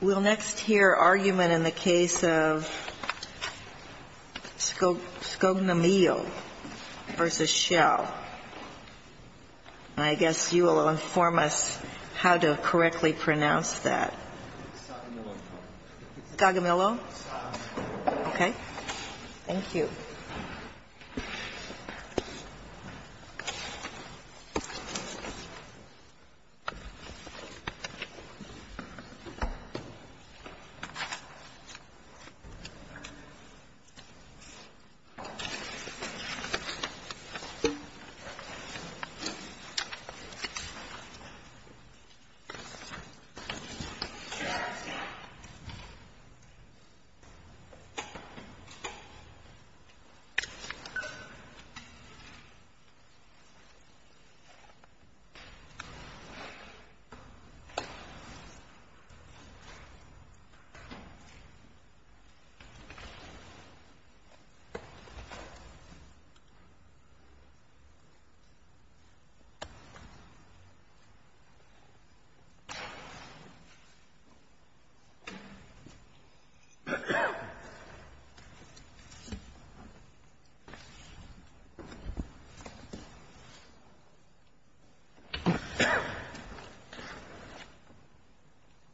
We'll next hear argument in the case of Scognamillo v. Shell. I guess you will inform us how to correctly pronounce that. Scognamillo? Okay. Thank you. Scognamillo v. Shell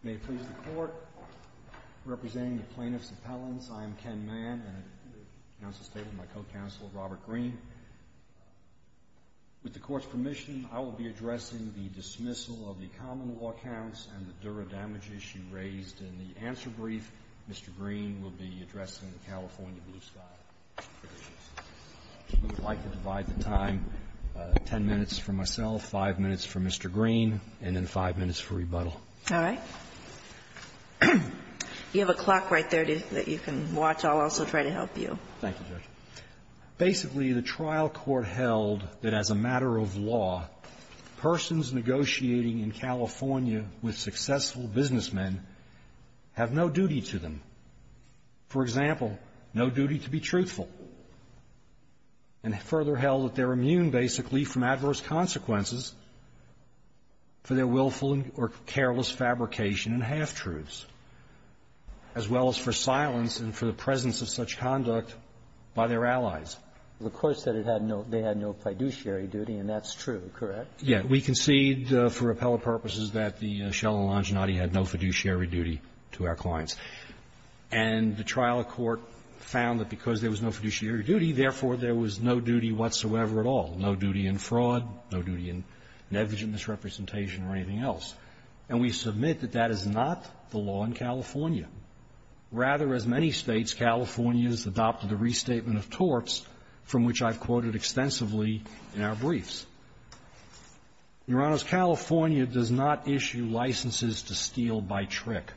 May it please the Court, representing the Plaintiffs' Appellants, I am Ken Mann and I announce the statement of my co-counsel, Robert Green. With the Court's permission, I will be addressing the dismissal of the common law counts and the dura damage issue raised in the answer brief. Mr. Green will be addressing the California blue sky provisions. I would like to divide the time, 10 minutes for myself, 5 minutes for Mr. Green, and then 5 minutes for rebuttal. All right. You have a clock right there that you can watch. I'll also try to help you. Thank you, Judge. Basically, the trial court held that as a matter of law, persons negotiating in California with successful businessmen have no duty to them. For example, no duty to be truthful. And further held that they're immune, basically, from adverse consequences for their willful or careless fabrication and half-truths, as well as for silence and for the presence of such conduct by their allies. The Court said it had no they had no fiduciary duty, and that's true, correct? Yeah. We concede for appellate purposes that the Shell and Longinati had no fiduciary duty to our clients. And the trial court found that because there was no fiduciary duty, therefore, there was no duty whatsoever at all, no duty in fraud, no duty in negligent misrepresentation or anything else. And we submit that that is not the law in California. Rather, as many States, California has adopted a restatement of torts from which I've quoted extensively in our briefs. Your Honors, California does not issue licenses to steal by trick.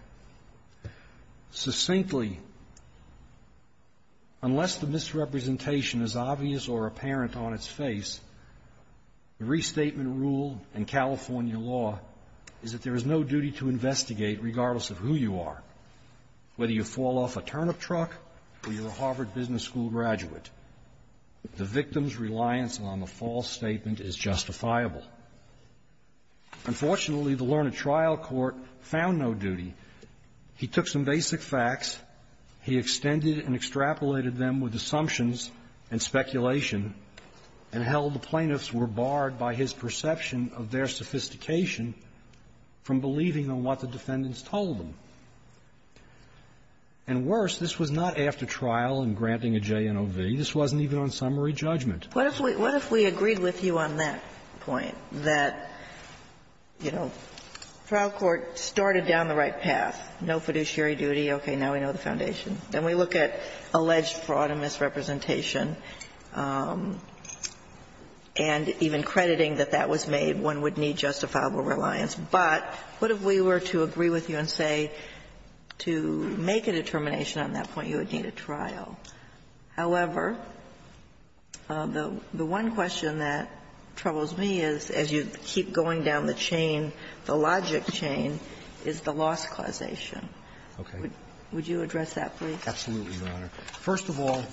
Succinctly, unless the misrepresentation is obvious or apparent on its face, the restatement rule in California law is that there is no duty to investigate regardless of who you are, whether you fall off a turnip truck or you're a Harvard business school graduate. The victim's reliance on the false statement is justifiable. Unfortunately, the learned trial court found no duty. He took some basic facts. He extended and extrapolated them with assumptions and speculation, and held the plaintiffs were barred by his perception of their sophistication from believing on what the defendants told them. And worse, this was not after trial and granting a JNOV. This wasn't even on summary judgment. What if we agreed with you on that point, that, you know, trial court started down the right path, no fiduciary duty, okay, now we know the foundation. Then we look at alleged fraud and misrepresentation, and even crediting that that was made, one would need justifiable reliance. But what if we were to agree with you and say, to make a determination on that point, you would need a trial. However, the one question that troubles me is, as you keep going down the chain, the logic chain is the loss causation. Would you address that, please? Absolutely, Your Honor. First of all,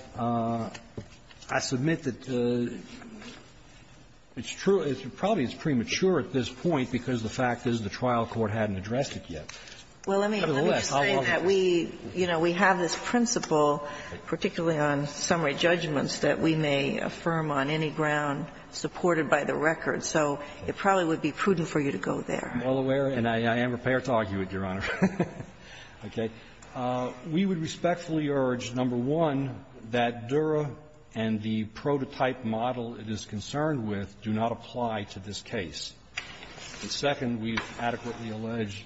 I submit that it's true, probably it's premature at this point because the fact is the trial court hadn't addressed it yet. Nevertheless, how long is this? Well, let me just say that we, you know, we have this principle, particularly on summary judgments, that we may affirm on any ground supported by the record. So it probably would be prudent for you to go there. I'm well aware, and I am prepared to argue it, Your Honor. Okay. We would respectfully urge, number one, that Dura and the prototype model it is concerned with do not apply to this case. And second, we adequately allege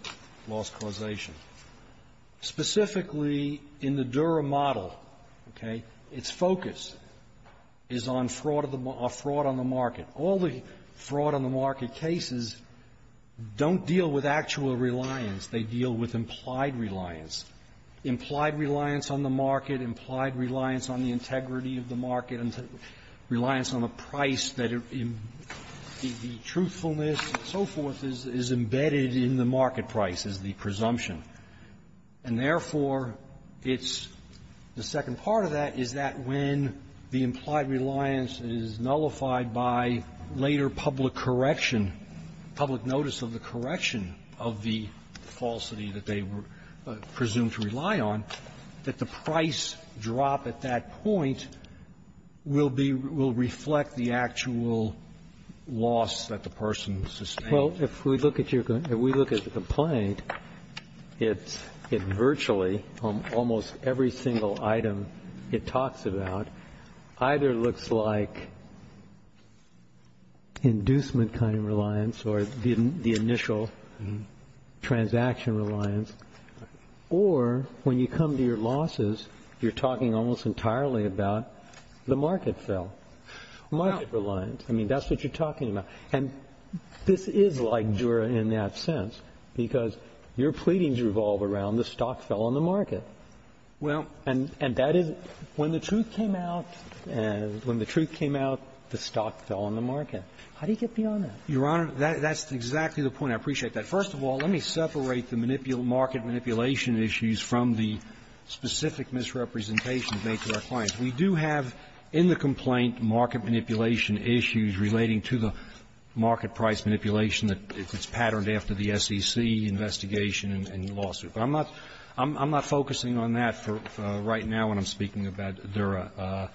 loss causation. Specifically, in the Dura model, okay, its focus is on fraud of the mark or fraud on the market. All the fraud on the market cases don't deal with actual reliance. They deal with implied reliance. Implied reliance on the market, implied reliance on the integrity of the market, and reliance on the price that the truthfulness and so forth is embedded in the market price, is the presumption. And therefore, it's the second part of that is that when the implied reliance is nullified by later public correction, public notice of the correction of the falsity that they were presumed to rely on, that the price drop at that point will be — will reflect the actual loss that the person sustained. Well, if we look at your — if we look at the complaint, it's — it virtually, almost every single item it talks about either looks like inducement kind of reliance or the initial transaction reliance, or when you come to your losses, you're talking almost entirely about the market fail, market reliance. I mean, that's what you're talking about. And this is like Dura in that sense, because your pleadings revolve around the stock fell on the market. Well — And that is — when the truth came out, when the truth came out, the stock fell on the market. How do you get beyond that? Your Honor, that's exactly the point. I appreciate that. First of all, let me separate the market manipulation issues from the specific misrepresentations made to our clients. We do have in the complaint market manipulation issues relating to the market price manipulation that is patterned after the SEC investigation and the lawsuit. But I'm not — I'm not focusing on that right now when I'm speaking about Dura.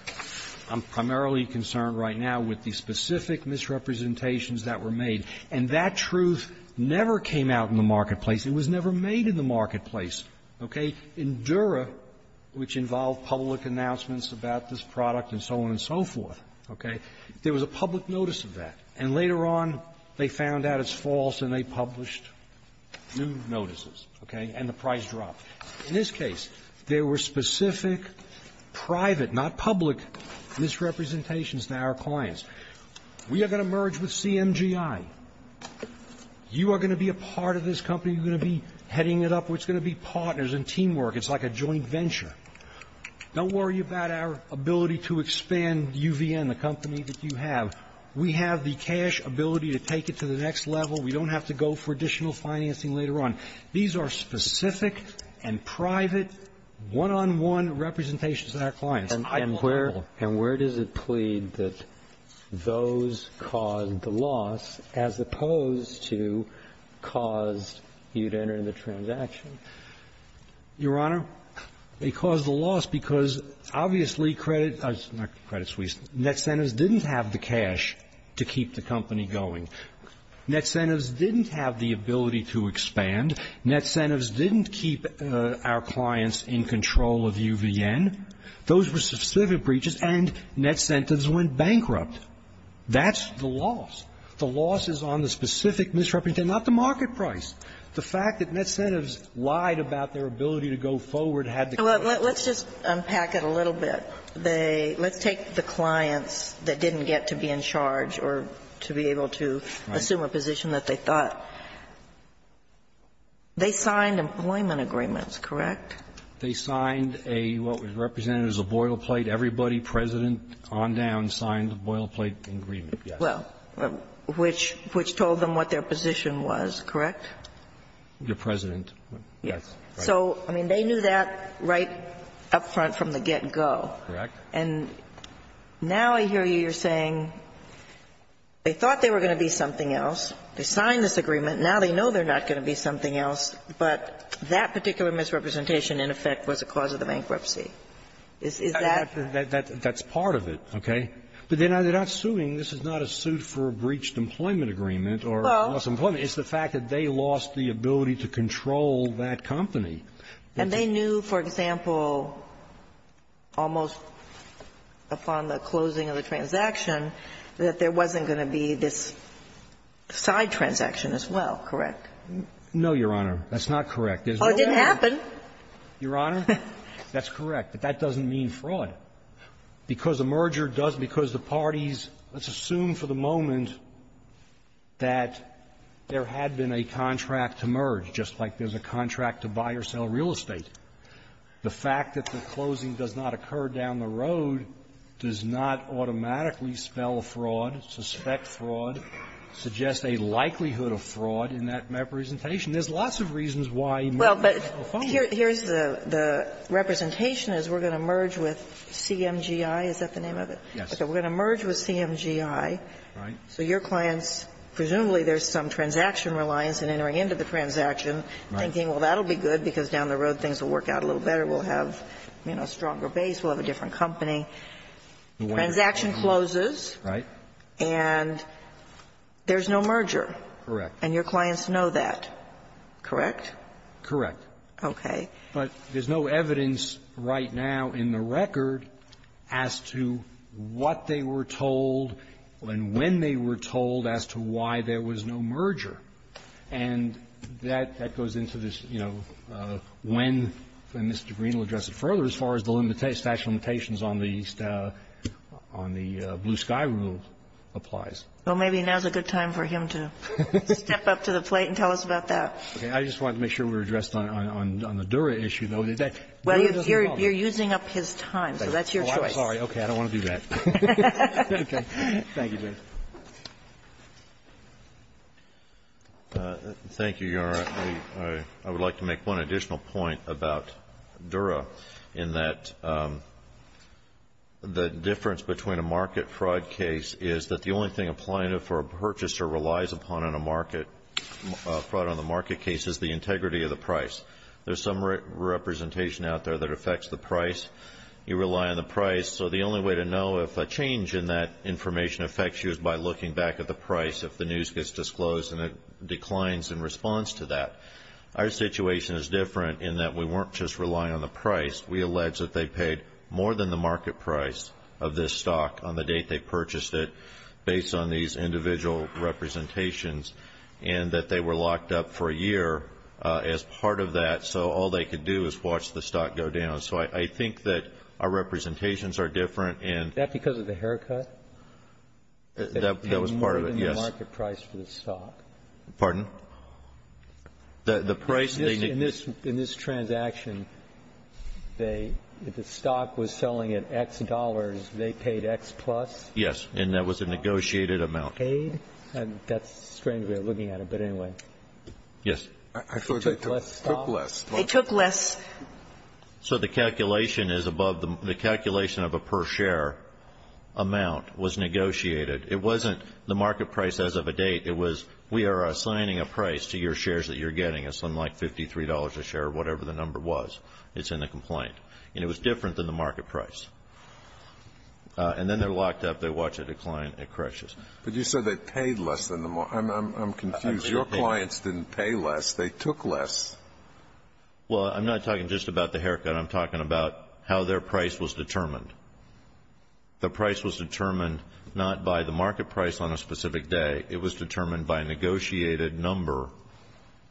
I'm primarily concerned right now with the specific misrepresentations that were made. And that truth never came out in the marketplace. It was never made in the marketplace. Okay? In Dura, which involved public announcements about this product and so on and so forth, okay, there was a public notice of that. And later on, they found out it's false and they published new notices, okay, and the price dropped. In this case, there were specific private, not public, misrepresentations to our clients. We are going to merge with CMGI. You are going to be a part of this company. You're going to be heading it up. It's going to be partners and teamwork. It's like a joint venture. Don't worry about our ability to expand UVN, the company that you have. We have the cash ability to take it to the next level. We don't have to go for additional financing later on. These are specific and private, one-on-one representations to our clients. I call them all. And where does it plead that those caused the loss as opposed to caused you to enter in the transaction? Your Honor, they caused the loss because, obviously, credit, not credit suisse, Netcentives didn't have the cash to keep the company going. Netcentives didn't have the ability to expand. Netcentives didn't keep our clients in control of UVN. Those were specific breaches, and Netcentives went bankrupt. That's the loss. The loss is on the specific misrepresentation, not the market price. The fact that Netcentives lied about their ability to go forward had the consequence. Let's just unpack it a little bit. Let's take the clients that didn't get to be in charge or to be able to assume a position that they thought. They signed employment agreements, correct? They signed a what was represented as a boil plate. Everybody, President on down, signed a boil plate agreement, yes. Well, which told them what their position was, correct? Your President. Yes. So, I mean, they knew that right up front from the get-go. Correct. And now I hear you saying they thought they were going to be something else. They signed this agreement. Now they know they're not going to be something else, but that particular misrepresentation in effect was a cause of the bankruptcy. Is that the fact? That's part of it, okay? But they're not suing. This is not a suit for a breached employment agreement or lost employment. It's the fact that they lost the ability to control that company. And they knew, for example, almost upon the closing of the transaction, that there wasn't going to be this side transaction as well, correct? No, Your Honor. That's not correct. There's no way. Oh, it didn't happen. Your Honor, that's correct. But that doesn't mean fraud. Because a merger does the parties, let's assume for the moment that there had been a contract to merge, just like there's a contract to buy or sell real estate. The fact that the closing does not occur down the road does not automatically spell fraud, suspect fraud, suggest a likelihood of fraud in that representation. There's lots of reasons why mergers are not going to follow. Well, but here's the representation is we're going to merge with CMGI. Is that the name of it? Yes. Okay. We're going to merge with CMGI. Right. So your clients, presumably there's some transaction reliance in entering into the transaction, thinking, well, that'll be good, because down the road things will work out a little better, we'll have, you know, a stronger base, we'll have a different company. Transaction closes. Right. And there's no merger. Correct. And your clients know that, correct? Correct. Okay. But there's no evidence right now in the record as to what they were told and when they were told as to why there was no merger. And that goes into this, you know, when Mr. Green will address it further as far as the statute of limitations on the Blue Sky Rule applies. Well, maybe now's a good time for him to step up to the plate and tell us about that. Okay. I just wanted to make sure we were addressed on the Dura issue, though. Dura doesn't follow that. Well, you're using up his time, so that's your choice. Well, I'm sorry. Okay. I don't want to do that. Okay. Thank you, Judge. Thank you, Your Honor. I would like to make one additional point about Dura in that the difference between a market fraud case is that the only thing a plaintiff or a purchaser relies upon on a market fraud on the market case is the integrity of the price. There's some representation out there that affects the price. You rely on the price. So the only way to know if a change in that information affects you is by looking back at the price if the news gets disclosed and it declines in response to that. Our situation is different in that we weren't just relying on the price. We allege that they paid more than the market price of this stock on the date they purchased it based on these individual representations and that they were locked up for a year as part of that. So all they could do is watch the stock go down. So I think that our representations are different and that was part of it. Yes. Pardon? The price in this in this transaction, they the stock was selling at X dollars. They paid X plus. Yes. And that was a negotiated amount. And that's strange. We're looking at it. But anyway, yes, I took less. They took less. So the calculation is above the calculation of a per share amount was negotiated. It wasn't the market price as of a date. It was we are assigning a price to your shares that you're getting, something like $53 a share, whatever the number was. It's in the complaint. And it was different than the market price. And then they're locked up. They watch it decline. It crashes. But you said they paid less than the market. I'm confused. Your clients didn't pay less. They took less. Well, I'm not talking just about the haircut. I'm talking about how their price was determined. The price was determined not by the market price on a specific day. It was determined by a negotiated number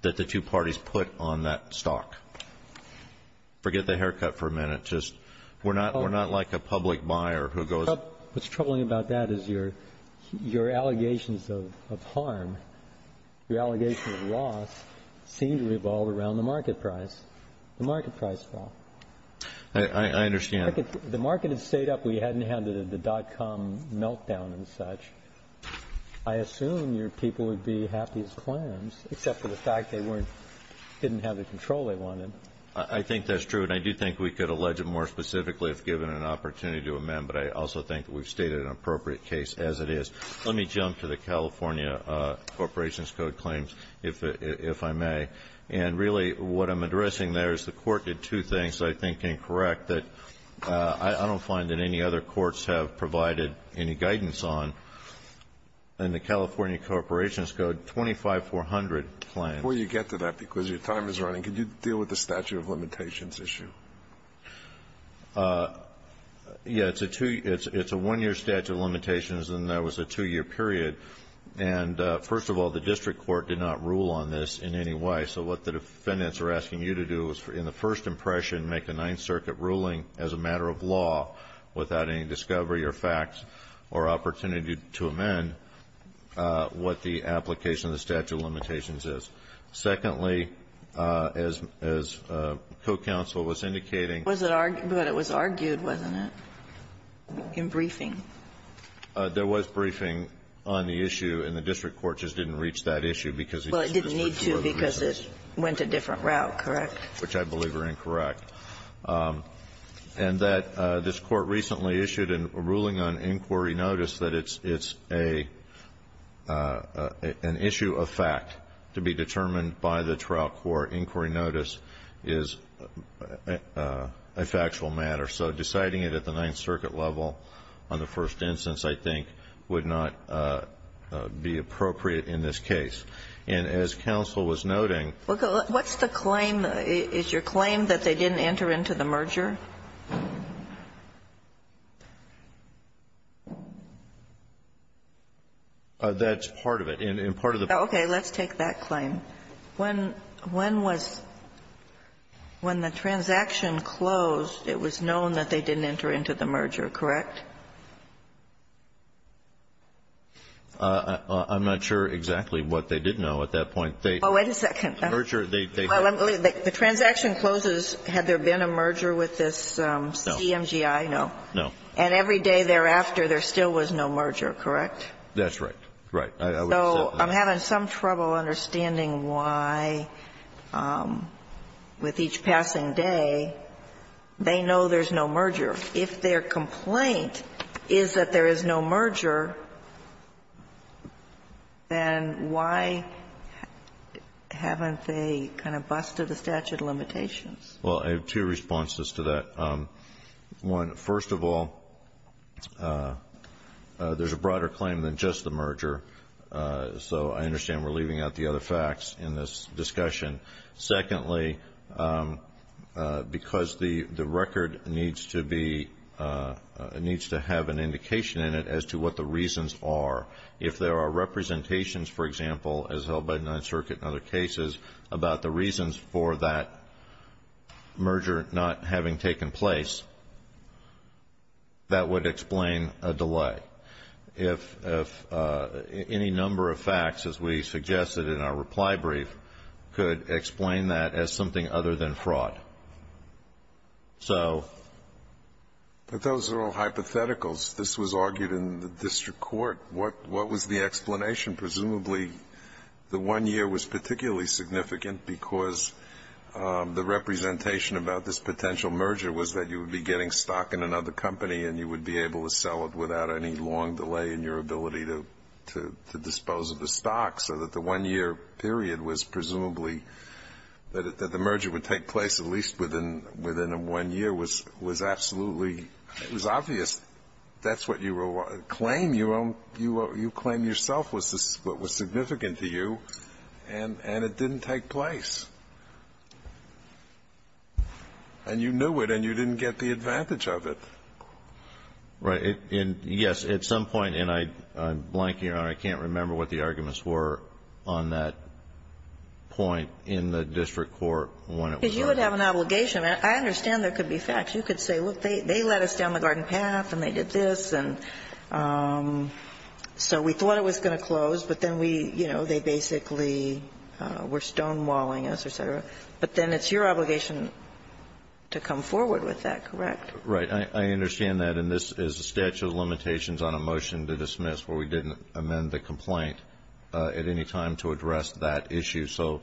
that the two parties put on that stock. Forget the haircut for a minute. Just we're not we're not like a public buyer who goes up. What's troubling about that is your your allegations of harm. Your allegations of loss seem to revolve around the market price. The market price fell. I understand. The market had stayed up. We hadn't had the dot com meltdown and such. I assume your people would be happy as clams, except for the fact they weren't didn't have the control they wanted. I think that's true. And I do think we could allege it more specifically if given an opportunity to amend, but I also think we've stated an appropriate case as it is. Let me jump to the California Corporations Code claims, if I may. And really, what I'm addressing there is the court did two things I think incorrect that I don't find that any other courts have provided any guidance on. And the California Corporations Code 25400 plan. Before you get to that, because your time is running, could you deal with the statute of limitations issue? Yeah, it's a one year statute of limitations and that was a two year period. And first of all, the district court did not rule on this in any way. So what the defendants are asking you to do is, in the first impression, make a Ninth Circuit ruling as a matter of law without any discovery or facts or opportunity to amend what the application of the statute of limitations is. Secondly, as co-counsel was indicating- But it was argued, wasn't it, in briefing? There was briefing on the issue and the district court just didn't reach that issue because- Well, it didn't need to because it went a different route, correct? Which I believe are incorrect. And that this court recently issued a ruling on inquiry notice that it's an issue of fact to be determined by the trial court. Inquiry notice is a factual matter. So deciding it at the Ninth Circuit level on the first instance, I think, would not be appropriate in this case. And as counsel was noting- What's the claim? Is your claim that they didn't enter into the merger? That's part of it. And part of the- Okay. Let's take that claim. When was the transaction closed, it was known that they didn't enter into the merger, correct? I'm not sure exactly what they did know at that point. They- Oh, wait a second. The merger, they- Well, the transaction closes, had there been a merger with this CMGI? No. No. And every day thereafter, there still was no merger, correct? That's right. Right. So I'm having some trouble understanding why, with each passing day, they know there's no merger. If their complaint is that there is no merger, then why haven't they kind of busted the statute of limitations? Well, I have two responses to that. One, first of all, there's a broader claim than just the merger. So I understand we're leaving out the other facts in this discussion. Secondly, because the record needs to be- needs to have an indication in it as to what the reasons are. If there are representations, for example, as held by the Ninth Circuit and other cases, about the reasons for that merger not having taken place, that would explain a delay. If any number of facts, as we suggested in our reply brief, could explain that as something other than fraud. So- But those are all hypotheticals. This was argued in the district court. What was the explanation? Presumably, the one year was particularly significant because the representation about this potential merger was that you would be getting stock in another company and you would be able to sell it without any long delay in your ability to dispose of the stock. So that the one year period was presumably- that the merger would take place at least within a one year was absolutely- it was obvious. That's what you claim. You claim yourself was what was significant to you, and it didn't take place. And you knew it and you didn't get the advantage of it. Right. And, yes, at some point, and I'm blanking on it, I can't remember what the arguments were on that point in the district court when it was argued. Because you would have an obligation. I understand there could be facts. You could say, look, they let us down the garden path and they did this, and so we thought it was going to close, but then we, you know, they basically were stonewalling us, et cetera. But then it's your obligation to come forward with that, correct? Right. I understand that. And this is a statute of limitations on a motion to dismiss where we didn't amend the complaint at any time to address that issue. So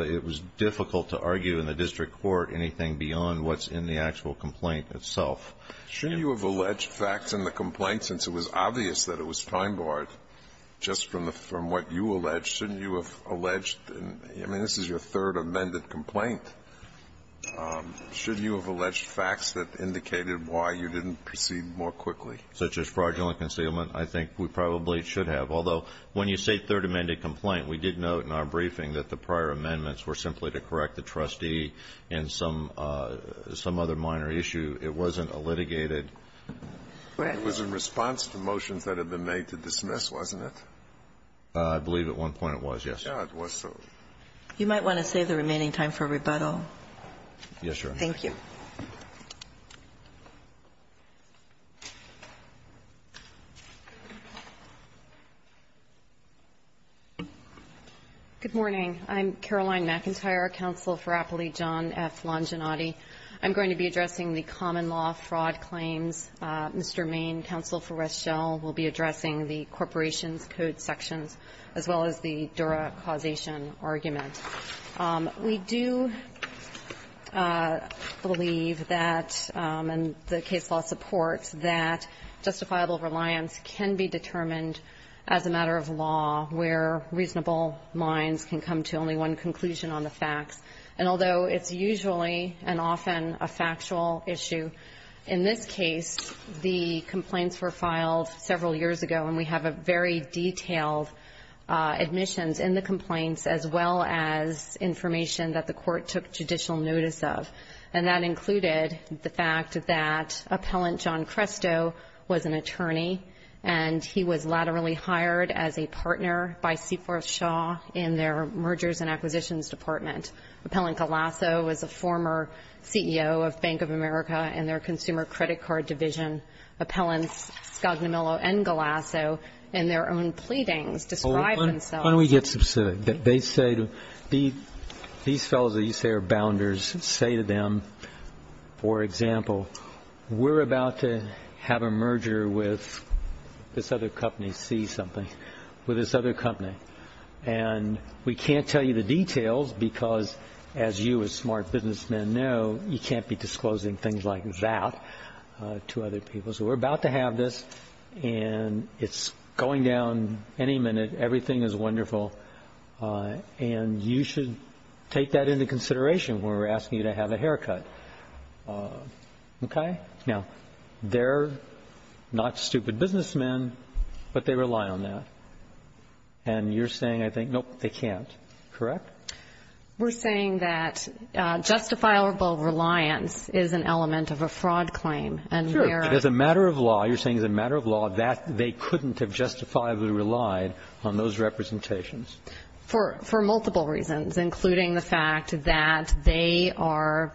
it was difficult to argue in the district court anything beyond what's in the actual complaint itself. Shouldn't you have alleged facts in the complaint since it was obvious that it was time-barred just from what you alleged? Shouldn't you have alleged- I mean, this is your third amended complaint. Shouldn't you have alleged facts that indicated why you didn't proceed more quickly? Such as fraudulent concealment, I think we probably should have. Although, when you say third amended complaint, we did note in our briefing that the prior amendments were simply to correct the trustee in some other minor issue. It wasn't a litigated- It was in response to motions that had been made to dismiss, wasn't it? I believe at one point it was, yes. Yes, it was. You might want to save the remaining time for rebuttal. Yes, Your Honor. Thank you. McIntyre, counsel for Appley, John F. Longinotti. I'm going to be addressing the common-law fraud claims. Mr. Main, counsel for Reschel, will be addressing the corporation's code sections as well as the Dura causation argument. We do believe that, and the case law supports, that justifiable reliance can be determined as a matter of law where reasonable minds can come to only one conclusion on the facts. And although it's usually and often a factual issue, in this case, the complaints were filed several years ago, and we have a very detailed admissions in the complaints as well as information that the court took judicial notice of. And that included the fact that Appellant John Cresto was an attorney, and he was laterally hired as a partner by Seaforth Shaw in their mergers and acquisitions department. Appellant Galasso was a former CEO of Bank of America and their consumer credit card division. Appellants Scognamillo and Galasso, in their own pleadings, describe themselves How can we get specific? They say, these fellows that you say are bounders, say to them, for example, we're about to have a merger with this other company, C something, with this other company. And we can't tell you the details because, as you as smart businessmen know, you can't be disclosing things like that to other people. So we're about to have this, and it's going down any minute. Everything is wonderful. And you should take that into consideration when we're asking you to have a haircut. Okay? Now, they're not stupid businessmen, but they rely on that. And you're saying, I think, nope, they can't. Correct? We're saying that justifiable reliance is an element of a fraud claim. Sure. As a matter of law, you're saying as a matter of law, that they couldn't have justifiably relied on those representations. For multiple reasons, including the fact that they were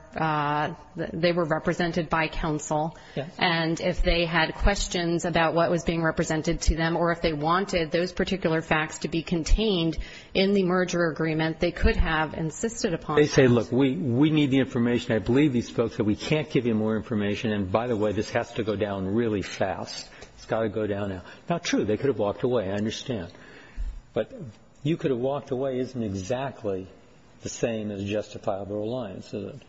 represented by counsel. And if they had questions about what was being represented to them or if they wanted those particular facts to be contained in the merger agreement, they could have insisted upon that. They say, look, we need the information. I believe these folks that we can't give you more information. And, by the way, this has to go down really fast. It's got to go down now. Not true. They could have walked away. I understand. But you could have walked away isn't exactly the same as justifiable reliance, is it?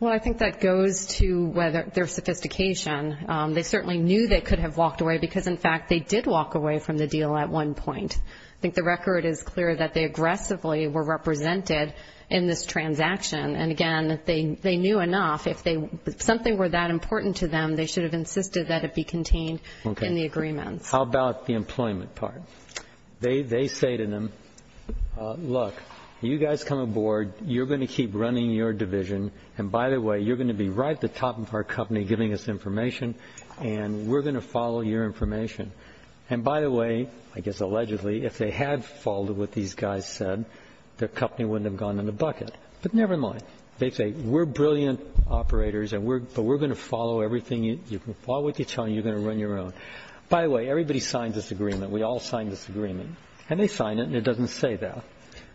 Well, I think that goes to their sophistication. They certainly knew they could have walked away because, in fact, they did walk away from the deal at one point. I think the record is clear that they aggressively were represented in this transaction. And, again, they knew enough. If something were that important to them, they should have insisted that it be contained in the agreements. Okay. How about the employment part? They say to them, look, you guys come aboard. You're going to keep running your division. And, by the way, you're going to be right at the top of our company giving us information, and we're going to follow your information. And, by the way, I guess allegedly, if they had followed what these guys said, their company wouldn't have gone in the bucket. But never mind. They say we're brilliant operators, but we're going to follow everything. You can follow what they're telling you. You're going to run your own. By the way, everybody signed this agreement. We all signed this agreement. And they signed it, and it doesn't say that.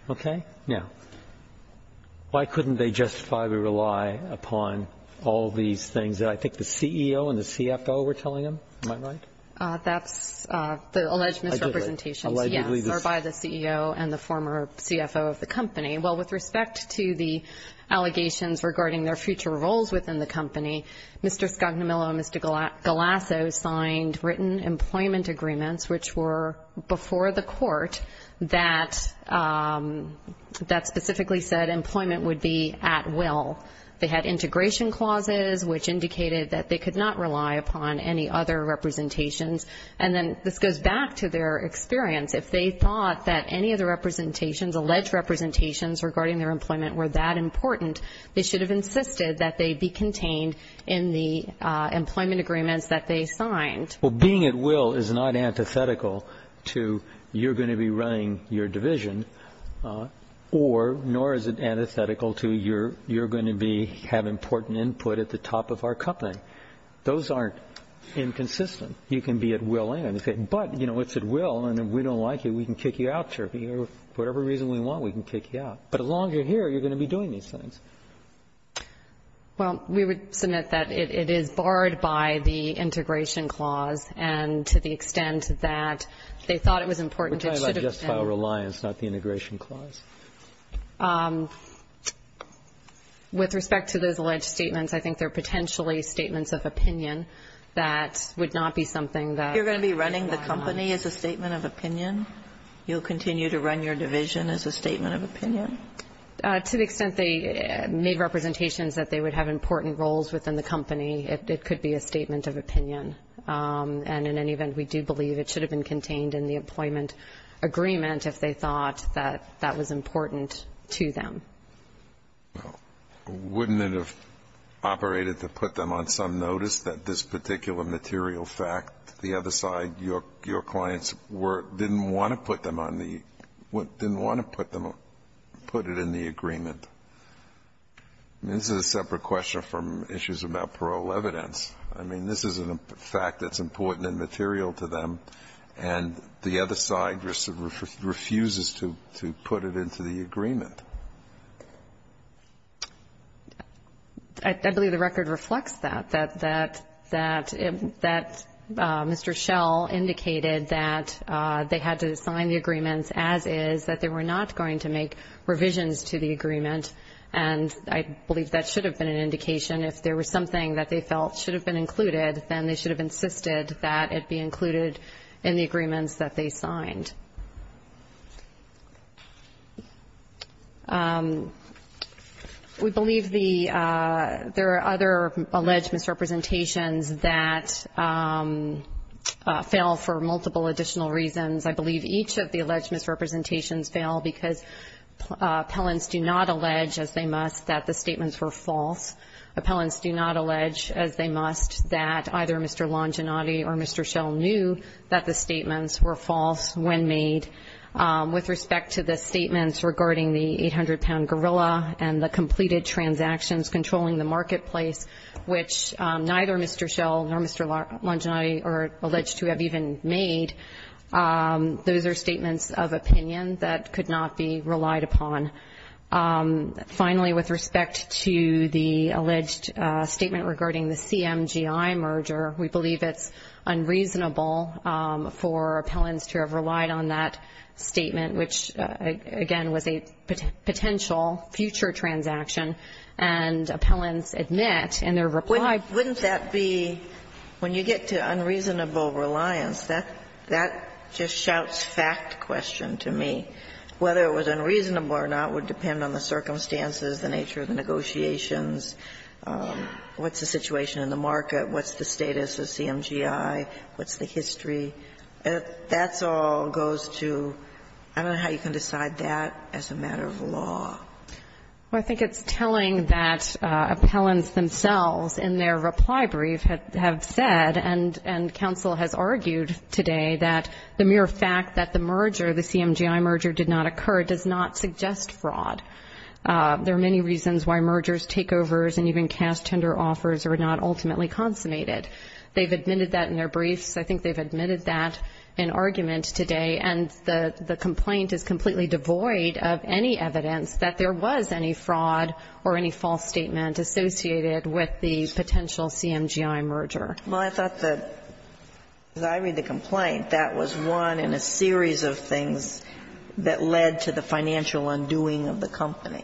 Okay? Now, why couldn't they justifiably rely upon all these things that I think the CEO and the CFO were telling them? Am I right? That's the alleged misrepresentations, yes. Allegedly. Or by the CEO and the former CFO of the company. Well, with respect to the allegations regarding their future roles within the company, Mr. Scognamillo and Mr. Galasso signed written employment agreements, which were before the court, that specifically said employment would be at will. They had integration clauses, which indicated that they could not rely upon any other representations. And then this goes back to their experience. If they thought that any of the representations, alleged representations regarding their employment were that important, they should have insisted that they be contained in the employment agreements that they signed. Well, being at will is not antithetical to you're going to be running your division, nor is it antithetical to you're going to have important input at the top of our company. Those aren't inconsistent. You can be at will. But, you know, it's at will, and if we don't like you, we can kick you out, or for whatever reason we want, we can kick you out. But as long as you're here, you're going to be doing these things. Well, we would submit that it is barred by the integration clause, and to the extent that they thought it was important, it should have been. We're talking about just file reliance, not the integration clause. With respect to those alleged statements, I think they're potentially statements of opinion that would not be something that we would rely on. You're going to be running the company as a statement of opinion? You'll continue to run your division as a statement of opinion? To the extent they made representations that they would have important roles within the company, it could be a statement of opinion. And in any event, we do believe it should have been contained in the employment agreement if they thought that that was important to them. Well, wouldn't it have operated to put them on some notice that this particular material fact, the other side, your clients didn't want to put them on the – didn't want to put it in the agreement? I mean, this is a separate question from issues about parole evidence. I mean, this is a fact that's important and material to them, and the other side refuses to put it into the agreement. I believe the record reflects that, that Mr. Schell indicated that they had to sign the agreements as is, that they were not going to make revisions to the agreement, and I believe that should have been an indication. If there was something that they felt should have been included, then they should have insisted that it be included in the agreements that they signed. And we believe the – there are other alleged misrepresentations that fail for multiple additional reasons. I believe each of the alleged misrepresentations fail because appellants do not allege, as they must, that the statements were false. Appellants do not allege, as they must, that either Mr. Longinotti or Mr. Schell knew that the statements were false when made. With respect to the statements regarding the 800-pound gorilla and the completed transactions controlling the marketplace, which neither Mr. Schell nor Mr. Longinotti are alleged to have even made, those are statements of opinion that could not be relied upon. Finally, with respect to the alleged statement regarding the CMGI merger, we believe it's unreasonable for appellants to have relied on that statement, which, again, was a potential future transaction, and appellants admit in their reply. Sotomayor, wouldn't that be – when you get to unreasonable reliance, that just shouts fact question to me. Whether it was unreasonable or not would depend on the circumstances, the nature of the negotiations. What's the situation in the market? What's the status of CMGI? What's the history? That's all goes to – I don't know how you can decide that as a matter of law. Well, I think it's telling that appellants themselves in their reply brief have said and counsel has argued today that the mere fact that the merger, the CMGI merger did not occur, does not suggest fraud. There are many reasons why mergers, takeovers, and even cash tender offers are not ultimately consummated. They've admitted that in their briefs. I think they've admitted that in argument today. And the complaint is completely devoid of any evidence that there was any fraud or any false statement associated with the potential CMGI merger. Well, I thought that, as I read the complaint, that was one in a series of things that led to the financial undoing of the company.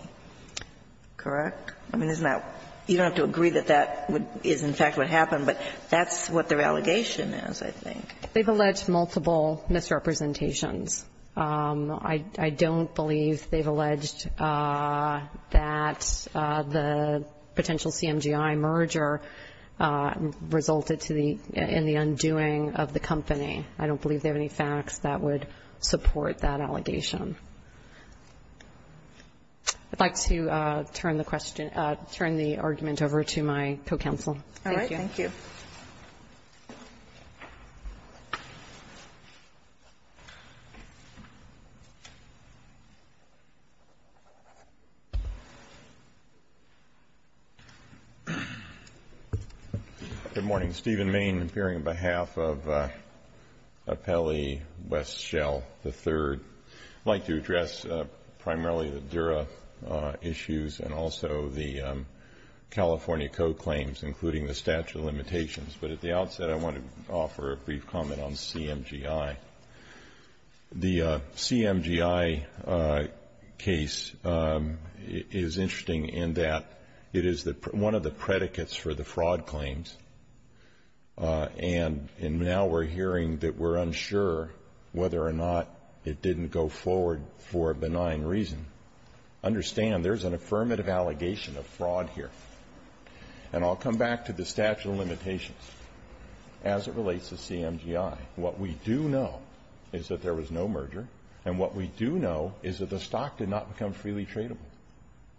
Correct? I mean, isn't that – you don't have to agree that that is in fact what happened, but that's what their allegation is, I think. They've alleged multiple misrepresentations. I don't believe they've alleged that the potential CMGI merger resulted to the – in the undoing of the company. I don't believe they have any facts that would support that allegation. I'd like to turn the question – turn the argument over to my co-counsel. Thank you. All right. Thank you. Good morning. I'm Stephen Main, appearing on behalf of Appellee Westshell III. I'd like to address primarily the Dura issues and also the California Code claims, including the statute of limitations. But at the outset, I want to offer a brief comment on CMGI. The CMGI case is interesting in that it is one of the predicates for the fraud claims. And now we're hearing that we're unsure whether or not it didn't go forward for a benign reason. Understand, there's an affirmative allegation of fraud here. And I'll come back to the statute of limitations as it relates to CMGI. What we do know is that there was no merger. And what we do know is that the stock did not become freely tradable.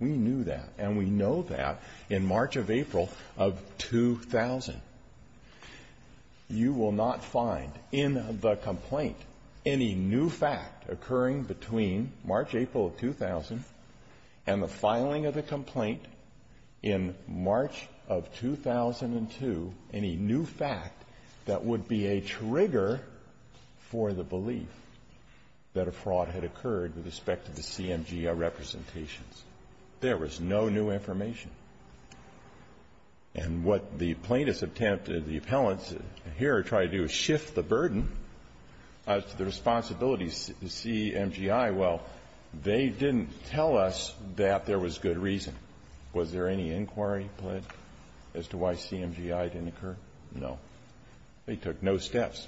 We knew that. And we know that in March of April of 2000. You will not find in the complaint any new fact occurring between March, April of 2000 and the filing of the complaint in March of 2002 any new fact that would be a trigger for the belief that a fraud had occurred with respect to the CMGI representations. There was no new information. And what the plaintiffs attempted, the appellants here tried to do is shift the burden of the responsibilities to CMGI. Well, they didn't tell us that there was good reason. Was there any inquiry put as to why CMGI didn't occur? No. They took no steps.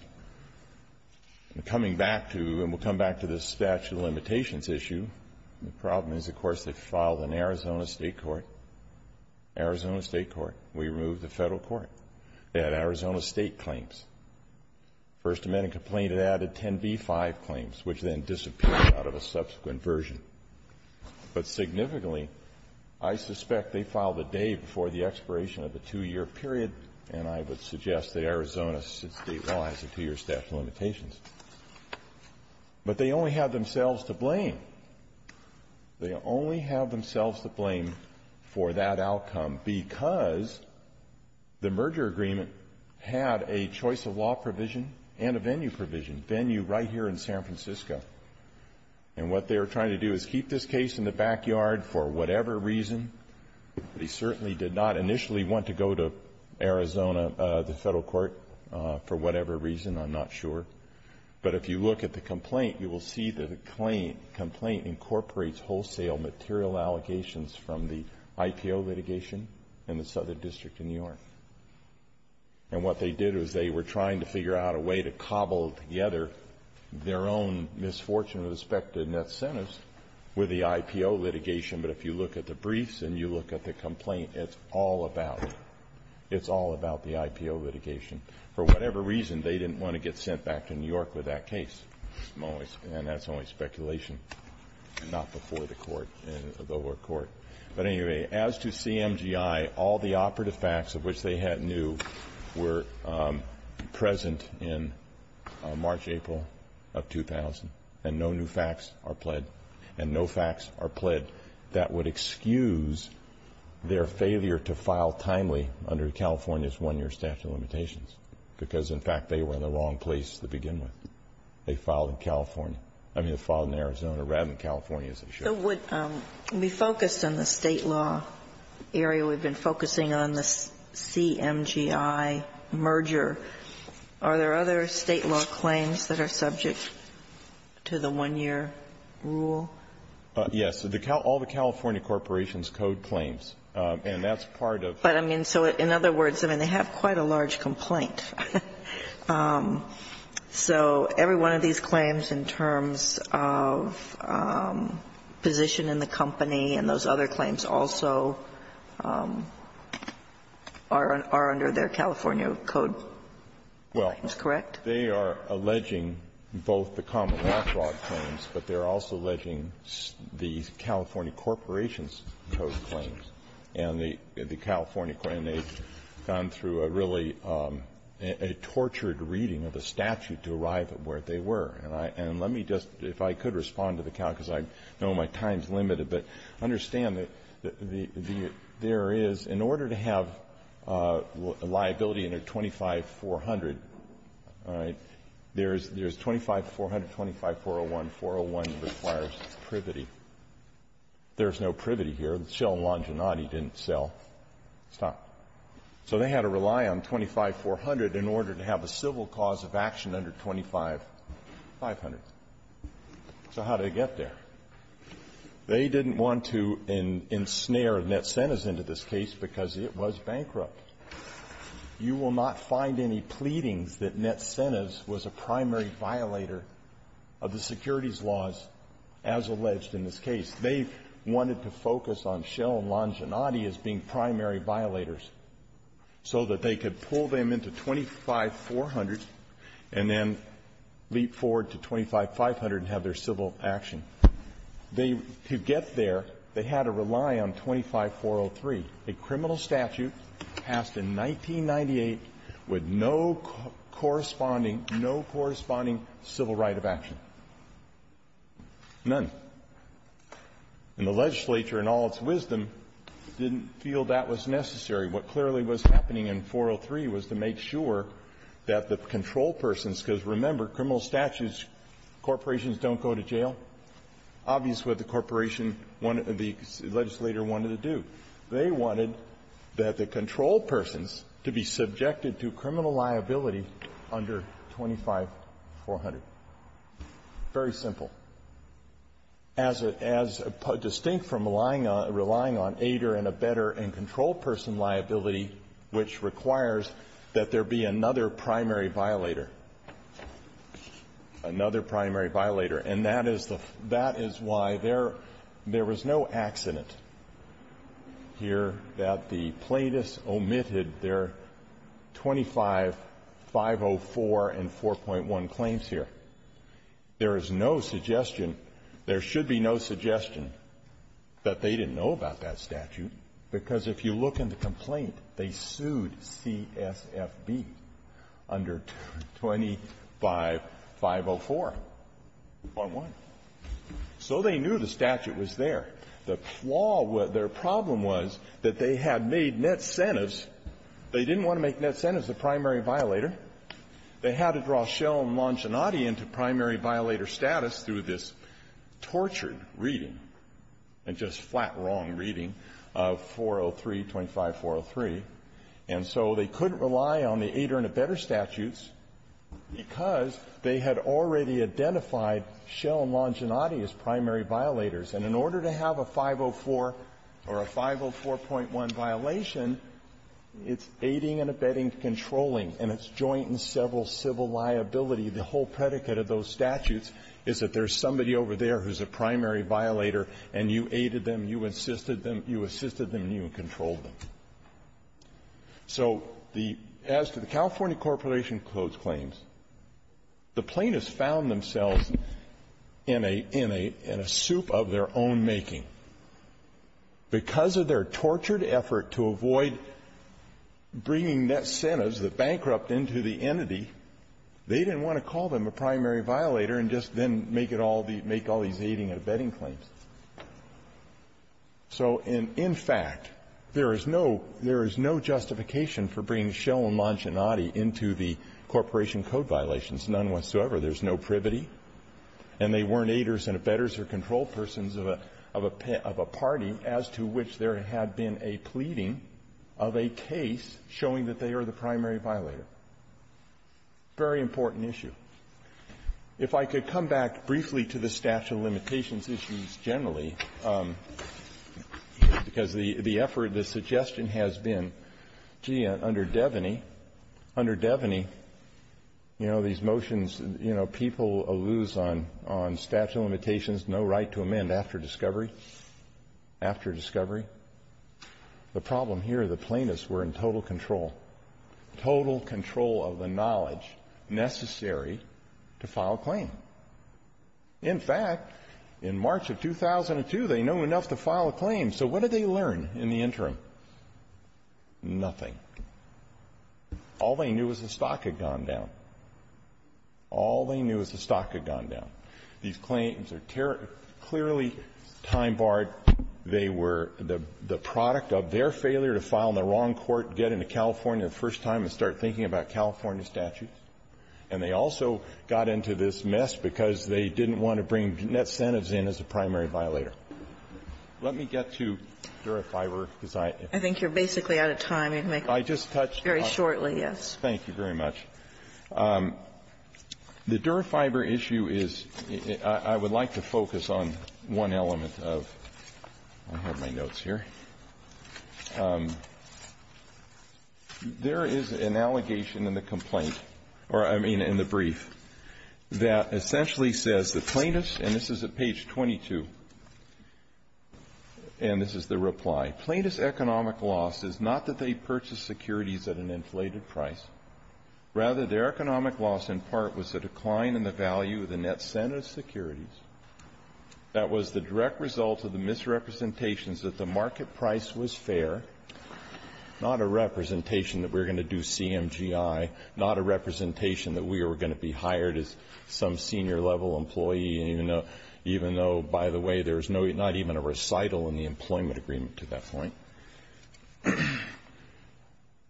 Coming back to, and we'll come back to this statute of limitations issue, the problem is, of course, they filed an Arizona State court, Arizona State court. We removed the Federal court. They had Arizona State claims. First Amendment complaint, it added 10b-5 claims, which then disappeared out of a subsequent version. But significantly, I suspect they filed a day before the expiration of the two-year period, and I would suggest that Arizona, since State law has a two-year statute of limitations. But they only have themselves to blame. They only have themselves to blame for that outcome because the merger agreement had a choice of law provision and a venue provision, venue right here in San Francisco. And what they were trying to do is keep this case in the backyard for whatever reason. They certainly did not initially want to go to Arizona, the Federal court, for whatever reason. I'm not sure. But if you look at the complaint, you will see that the complaint incorporates wholesale material allegations from the IPO litigation in the Southern District of New York. And what they did was they were trying to figure out a way to cobble together their own misfortune with respect to the net sentence with the IPO litigation. But if you look at the briefs and you look at the complaint, it's all about the IPO litigation. For whatever reason, they didn't want to get sent back to New York with that case. And that's only speculation. Not before the court, the lower court. But anyway, as to CMGI, all the operative facts of which they had new were present in March, April of 2000. And no new facts are pled. And no facts are pled that would excuse their failure to file timely under California's one-year statute of limitations because, in fact, they were in the wrong place to begin with. They filed in California. I mean, they filed in Arizona rather than California, as they should have. We focused on the state law area. We've been focusing on the CMGI merger. Are there other state law claims that are subject to the one-year rule? Yes. All the California corporations code claims. And that's part of the rule. But, I mean, so in other words, I mean, they have quite a large complaint. So every one of these claims in terms of position in the company and those other claims also are under their California code claims, correct? Well, they are alleging both the common law fraud claims, but they're also alleging the California corporations code claims. And they've gone through a really tortured reading of a statute to arrive at where they were. And let me just, if I could respond to the count, because I know my time is limited, but understand that there is, in order to have liability under 25-400, all right, there's 25-400, 25-401. 401 requires privity. There's no privity here. So Shell and Longinati didn't sell. Stop. So they had to rely on 25-400 in order to have a civil cause of action under 25-500. So how did they get there? They didn't want to ensnare Net-Cenas into this case because it was bankrupt. You will not find any pleadings that Net-Cenas was a primary violator of the securities laws as alleged in this case. They wanted to focus on Shell and Longinati as being primary violators so that they could pull them into 25-400 and then leap forward to 25-500 and have their civil action. They, to get there, they had to rely on 25-403, a criminal statute passed in 1998 with no corresponding, no corresponding civil right of action, none. And the legislature, in all its wisdom, didn't feel that was necessary. What clearly was happening in 403 was to make sure that the control persons, because, remember, criminal statutes, corporations don't go to jail, obviously what the corporation wanted, the legislator wanted to do. They wanted that the control persons to be subjected to criminal liability under 25-400. Very simple. As a distinct from relying on ADIR and a better and controlled person liability, which requires that there be another primary violator, another primary violator. And that is the why there was no accident here that the plaintiffs omitted their 25-504 and 4.1 claims here. There is no suggestion, there should be no suggestion, that they didn't know about that statute, because if you look in the complaint, they sued CSFB under 25-504. So they knew the statute was there. The flaw was, their problem was that they had made net incentives. They didn't want to make net incentives as the primary violator. They had to draw Schell and Longinati into primary violator status through this tortured reading and just flat-wrong reading of 403, 25-403. And so they couldn't rely on the ADIR and a better statutes because they had already identified Schell and Longinati as primary violators. And in order to have a 504 or a 504.1 violation, it's aiding and abetting, controlling, and it's joint and several civil liability. The whole predicate of those statutes is that there's somebody over there who's a primary violator, and you aided them, you assisted them, and you controlled them. So the as to the California Corporation of Clothes Claims, the plaintiffs found themselves in a soup of their own making. Because of their tortured effort to avoid bringing net incentives that bankrupt into the entity, they didn't want to call them a primary violator and just then make it all the – make all these aiding and abetting claims. So in fact, there is no – there is no justification for bringing Schell and Longinati into the Corporation Code violations, none whatsoever. There's no privity. And they weren't aiders and abetters or control persons of a – of a party as to which there had been a pleading of a case showing that they are the primary violator. Very important issue. If I could come back briefly to the statute of limitations issues generally, because the effort, the suggestion has been, gee, under Devaney, under Devaney, you know, these motions, you know, people alluse on – on statute of limitations, no right to amend after discovery. After discovery. The problem here, the plaintiffs were in total control, total control of the knowledge necessary to file a claim. In fact, in March of 2002, they knew enough to file a claim. So what did they learn in the interim? Nothing. All they knew was the stock had gone down. All they knew was the stock had gone down. These claims are clearly time-barred. They were the – the product of their failure to file in the wrong court, get into California the first time, and start thinking about California statutes. And they also got into this mess because they didn't want to bring Bennett Senevz in as the primary violator. Let me get to Dura-Fiber, because I – I think you're basically out of time. I just touched on it. Very shortly, yes. Thank you very much. The Dura-Fiber issue is – I would like to focus on one element of – I have my notes here. There is an allegation in the complaint, or I mean in the And this is the reply. Plaintiff's economic loss is not that they purchased securities at an inflated price. Rather, their economic loss in part was a decline in the value of the net cent of securities. That was the direct result of the misrepresentations that the market price was fair – not a representation that we're going to do CMGI, not a representation that we were going to be hired as some senior-level employee, even though, by the way, there's not even a recital in the employment agreement to that point.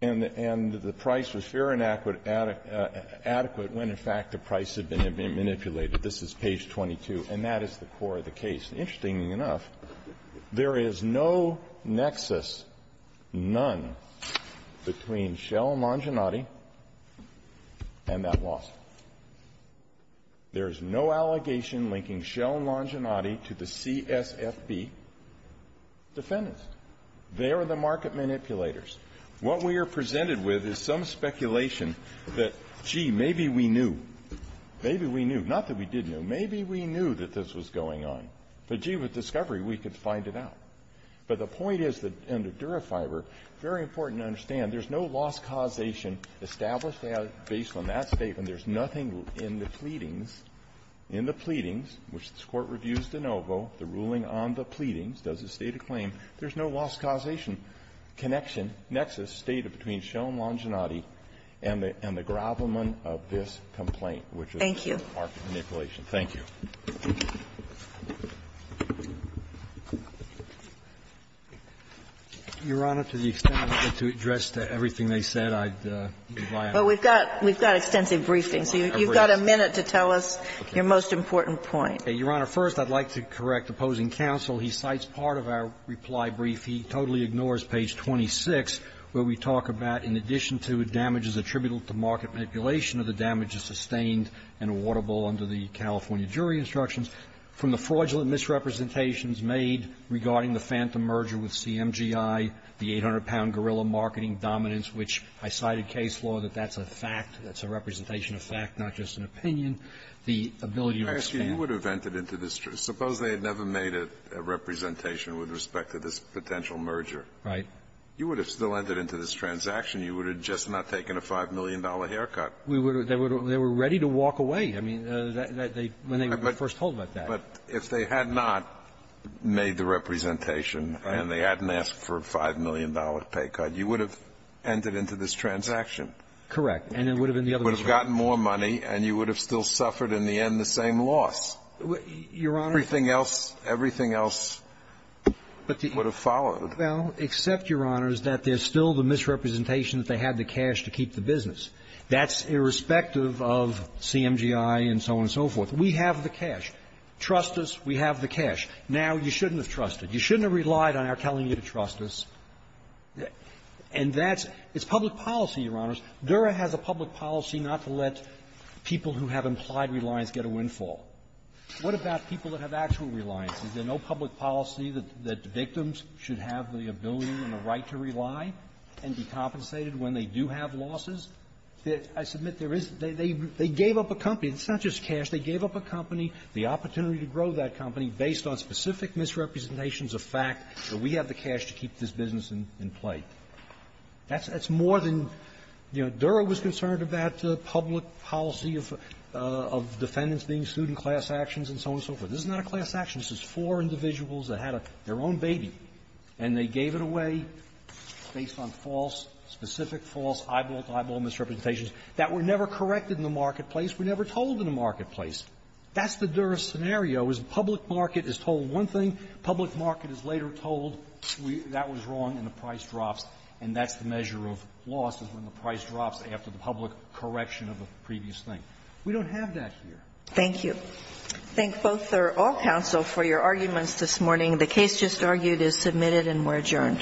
And the price was fair and adequate when, in fact, the price had been manipulated. This is page 22, and that is the core of the case. Interestingly enough, there is no nexus, none, between Shell and Manginati and that loss. There is no allegation linking Shell and Manginati to the CSFB defendants. They are the market manipulators. What we are presented with is some speculation that, gee, maybe we knew. Maybe we knew. Not that we did know. Maybe we knew that this was going on. But, gee, with discovery, we could find it out. But the point is that under Dura-Fiber, very important to understand, there's no loss causation established based on that statement. There's nothing in the pleadings, in the pleadings, which this Court reviews de novo, the ruling on the pleadings, does it state a claim, there's no loss causation connection, nexus stated between Shell and Manginati and the gravamen of this complaint, which is the market manipulation. Thank you. Your Honor, to the extent I have to address to everything they said, I'd buy out. Well, we've got extensive briefings. You've got a minute to tell us your most important point. Your Honor, first I'd like to correct opposing counsel. He cites part of our reply brief. He totally ignores page 26, where we talk about, in addition to damages attributable to market manipulation, are the damages sustained and awardable under the California jury instructions from the fraudulent misrepresentations made regarding the phantom merger with CMGI, the 800-pound gorilla marketing dominance, which I cited case law that that's a fact, that's a representation of fact, not just an opinion, the ability to expand. I ask you, you would have entered into this. Suppose they had never made a representation with respect to this potential merger. Right. You would have still entered into this transaction. You would have just not taken a $5 million haircut. We would have. They would have. They were ready to walk away. I mean, when they were first told about that. But if they had not made the representation and they hadn't asked for a $5 million pay cut, you would have entered into this transaction. Correct. And it would have been the other way around. You would have gotten more money and you would have still suffered in the end the same loss. Your Honor. Everything else, everything else would have followed. Well, except, Your Honor, that there's still the misrepresentation that they had the cash to keep the business. That's irrespective of CMGI and so on and so forth. We have the cash. Trust us. We have the cash. Now, you shouldn't have trusted. You shouldn't have relied on our telling you to trust us. And that's – it's public policy, Your Honors. Dura has a public policy not to let people who have implied reliance get a windfall. What about people that have actual reliance? Is there no public policy that victims should have the ability and the right to rely and be compensated when they do have losses? I submit there is. They gave up a company. It's not just cash. They gave up a company, the opportunity to grow that company based on specific misrepresentations of fact that we have the cash to keep this business in play. That's more than – you know, Dura was concerned about public policy of defendants being sued in class actions and so on and so forth. This is not a class action. This is four individuals that had their own baby, and they gave it away. Based on false – specific false eyeball-to-eyeball misrepresentations that were never corrected in the marketplace, were never told in the marketplace. That's the Dura scenario, is public market is told one thing, public market is later told that was wrong and the price drops, and that's the measure of loss is when the price drops after the public correction of a previous thing. We don't have that here. Thank you. I thank both or all counsel for your arguments this morning. The case just argued is submitted and we're adjourned. All rise.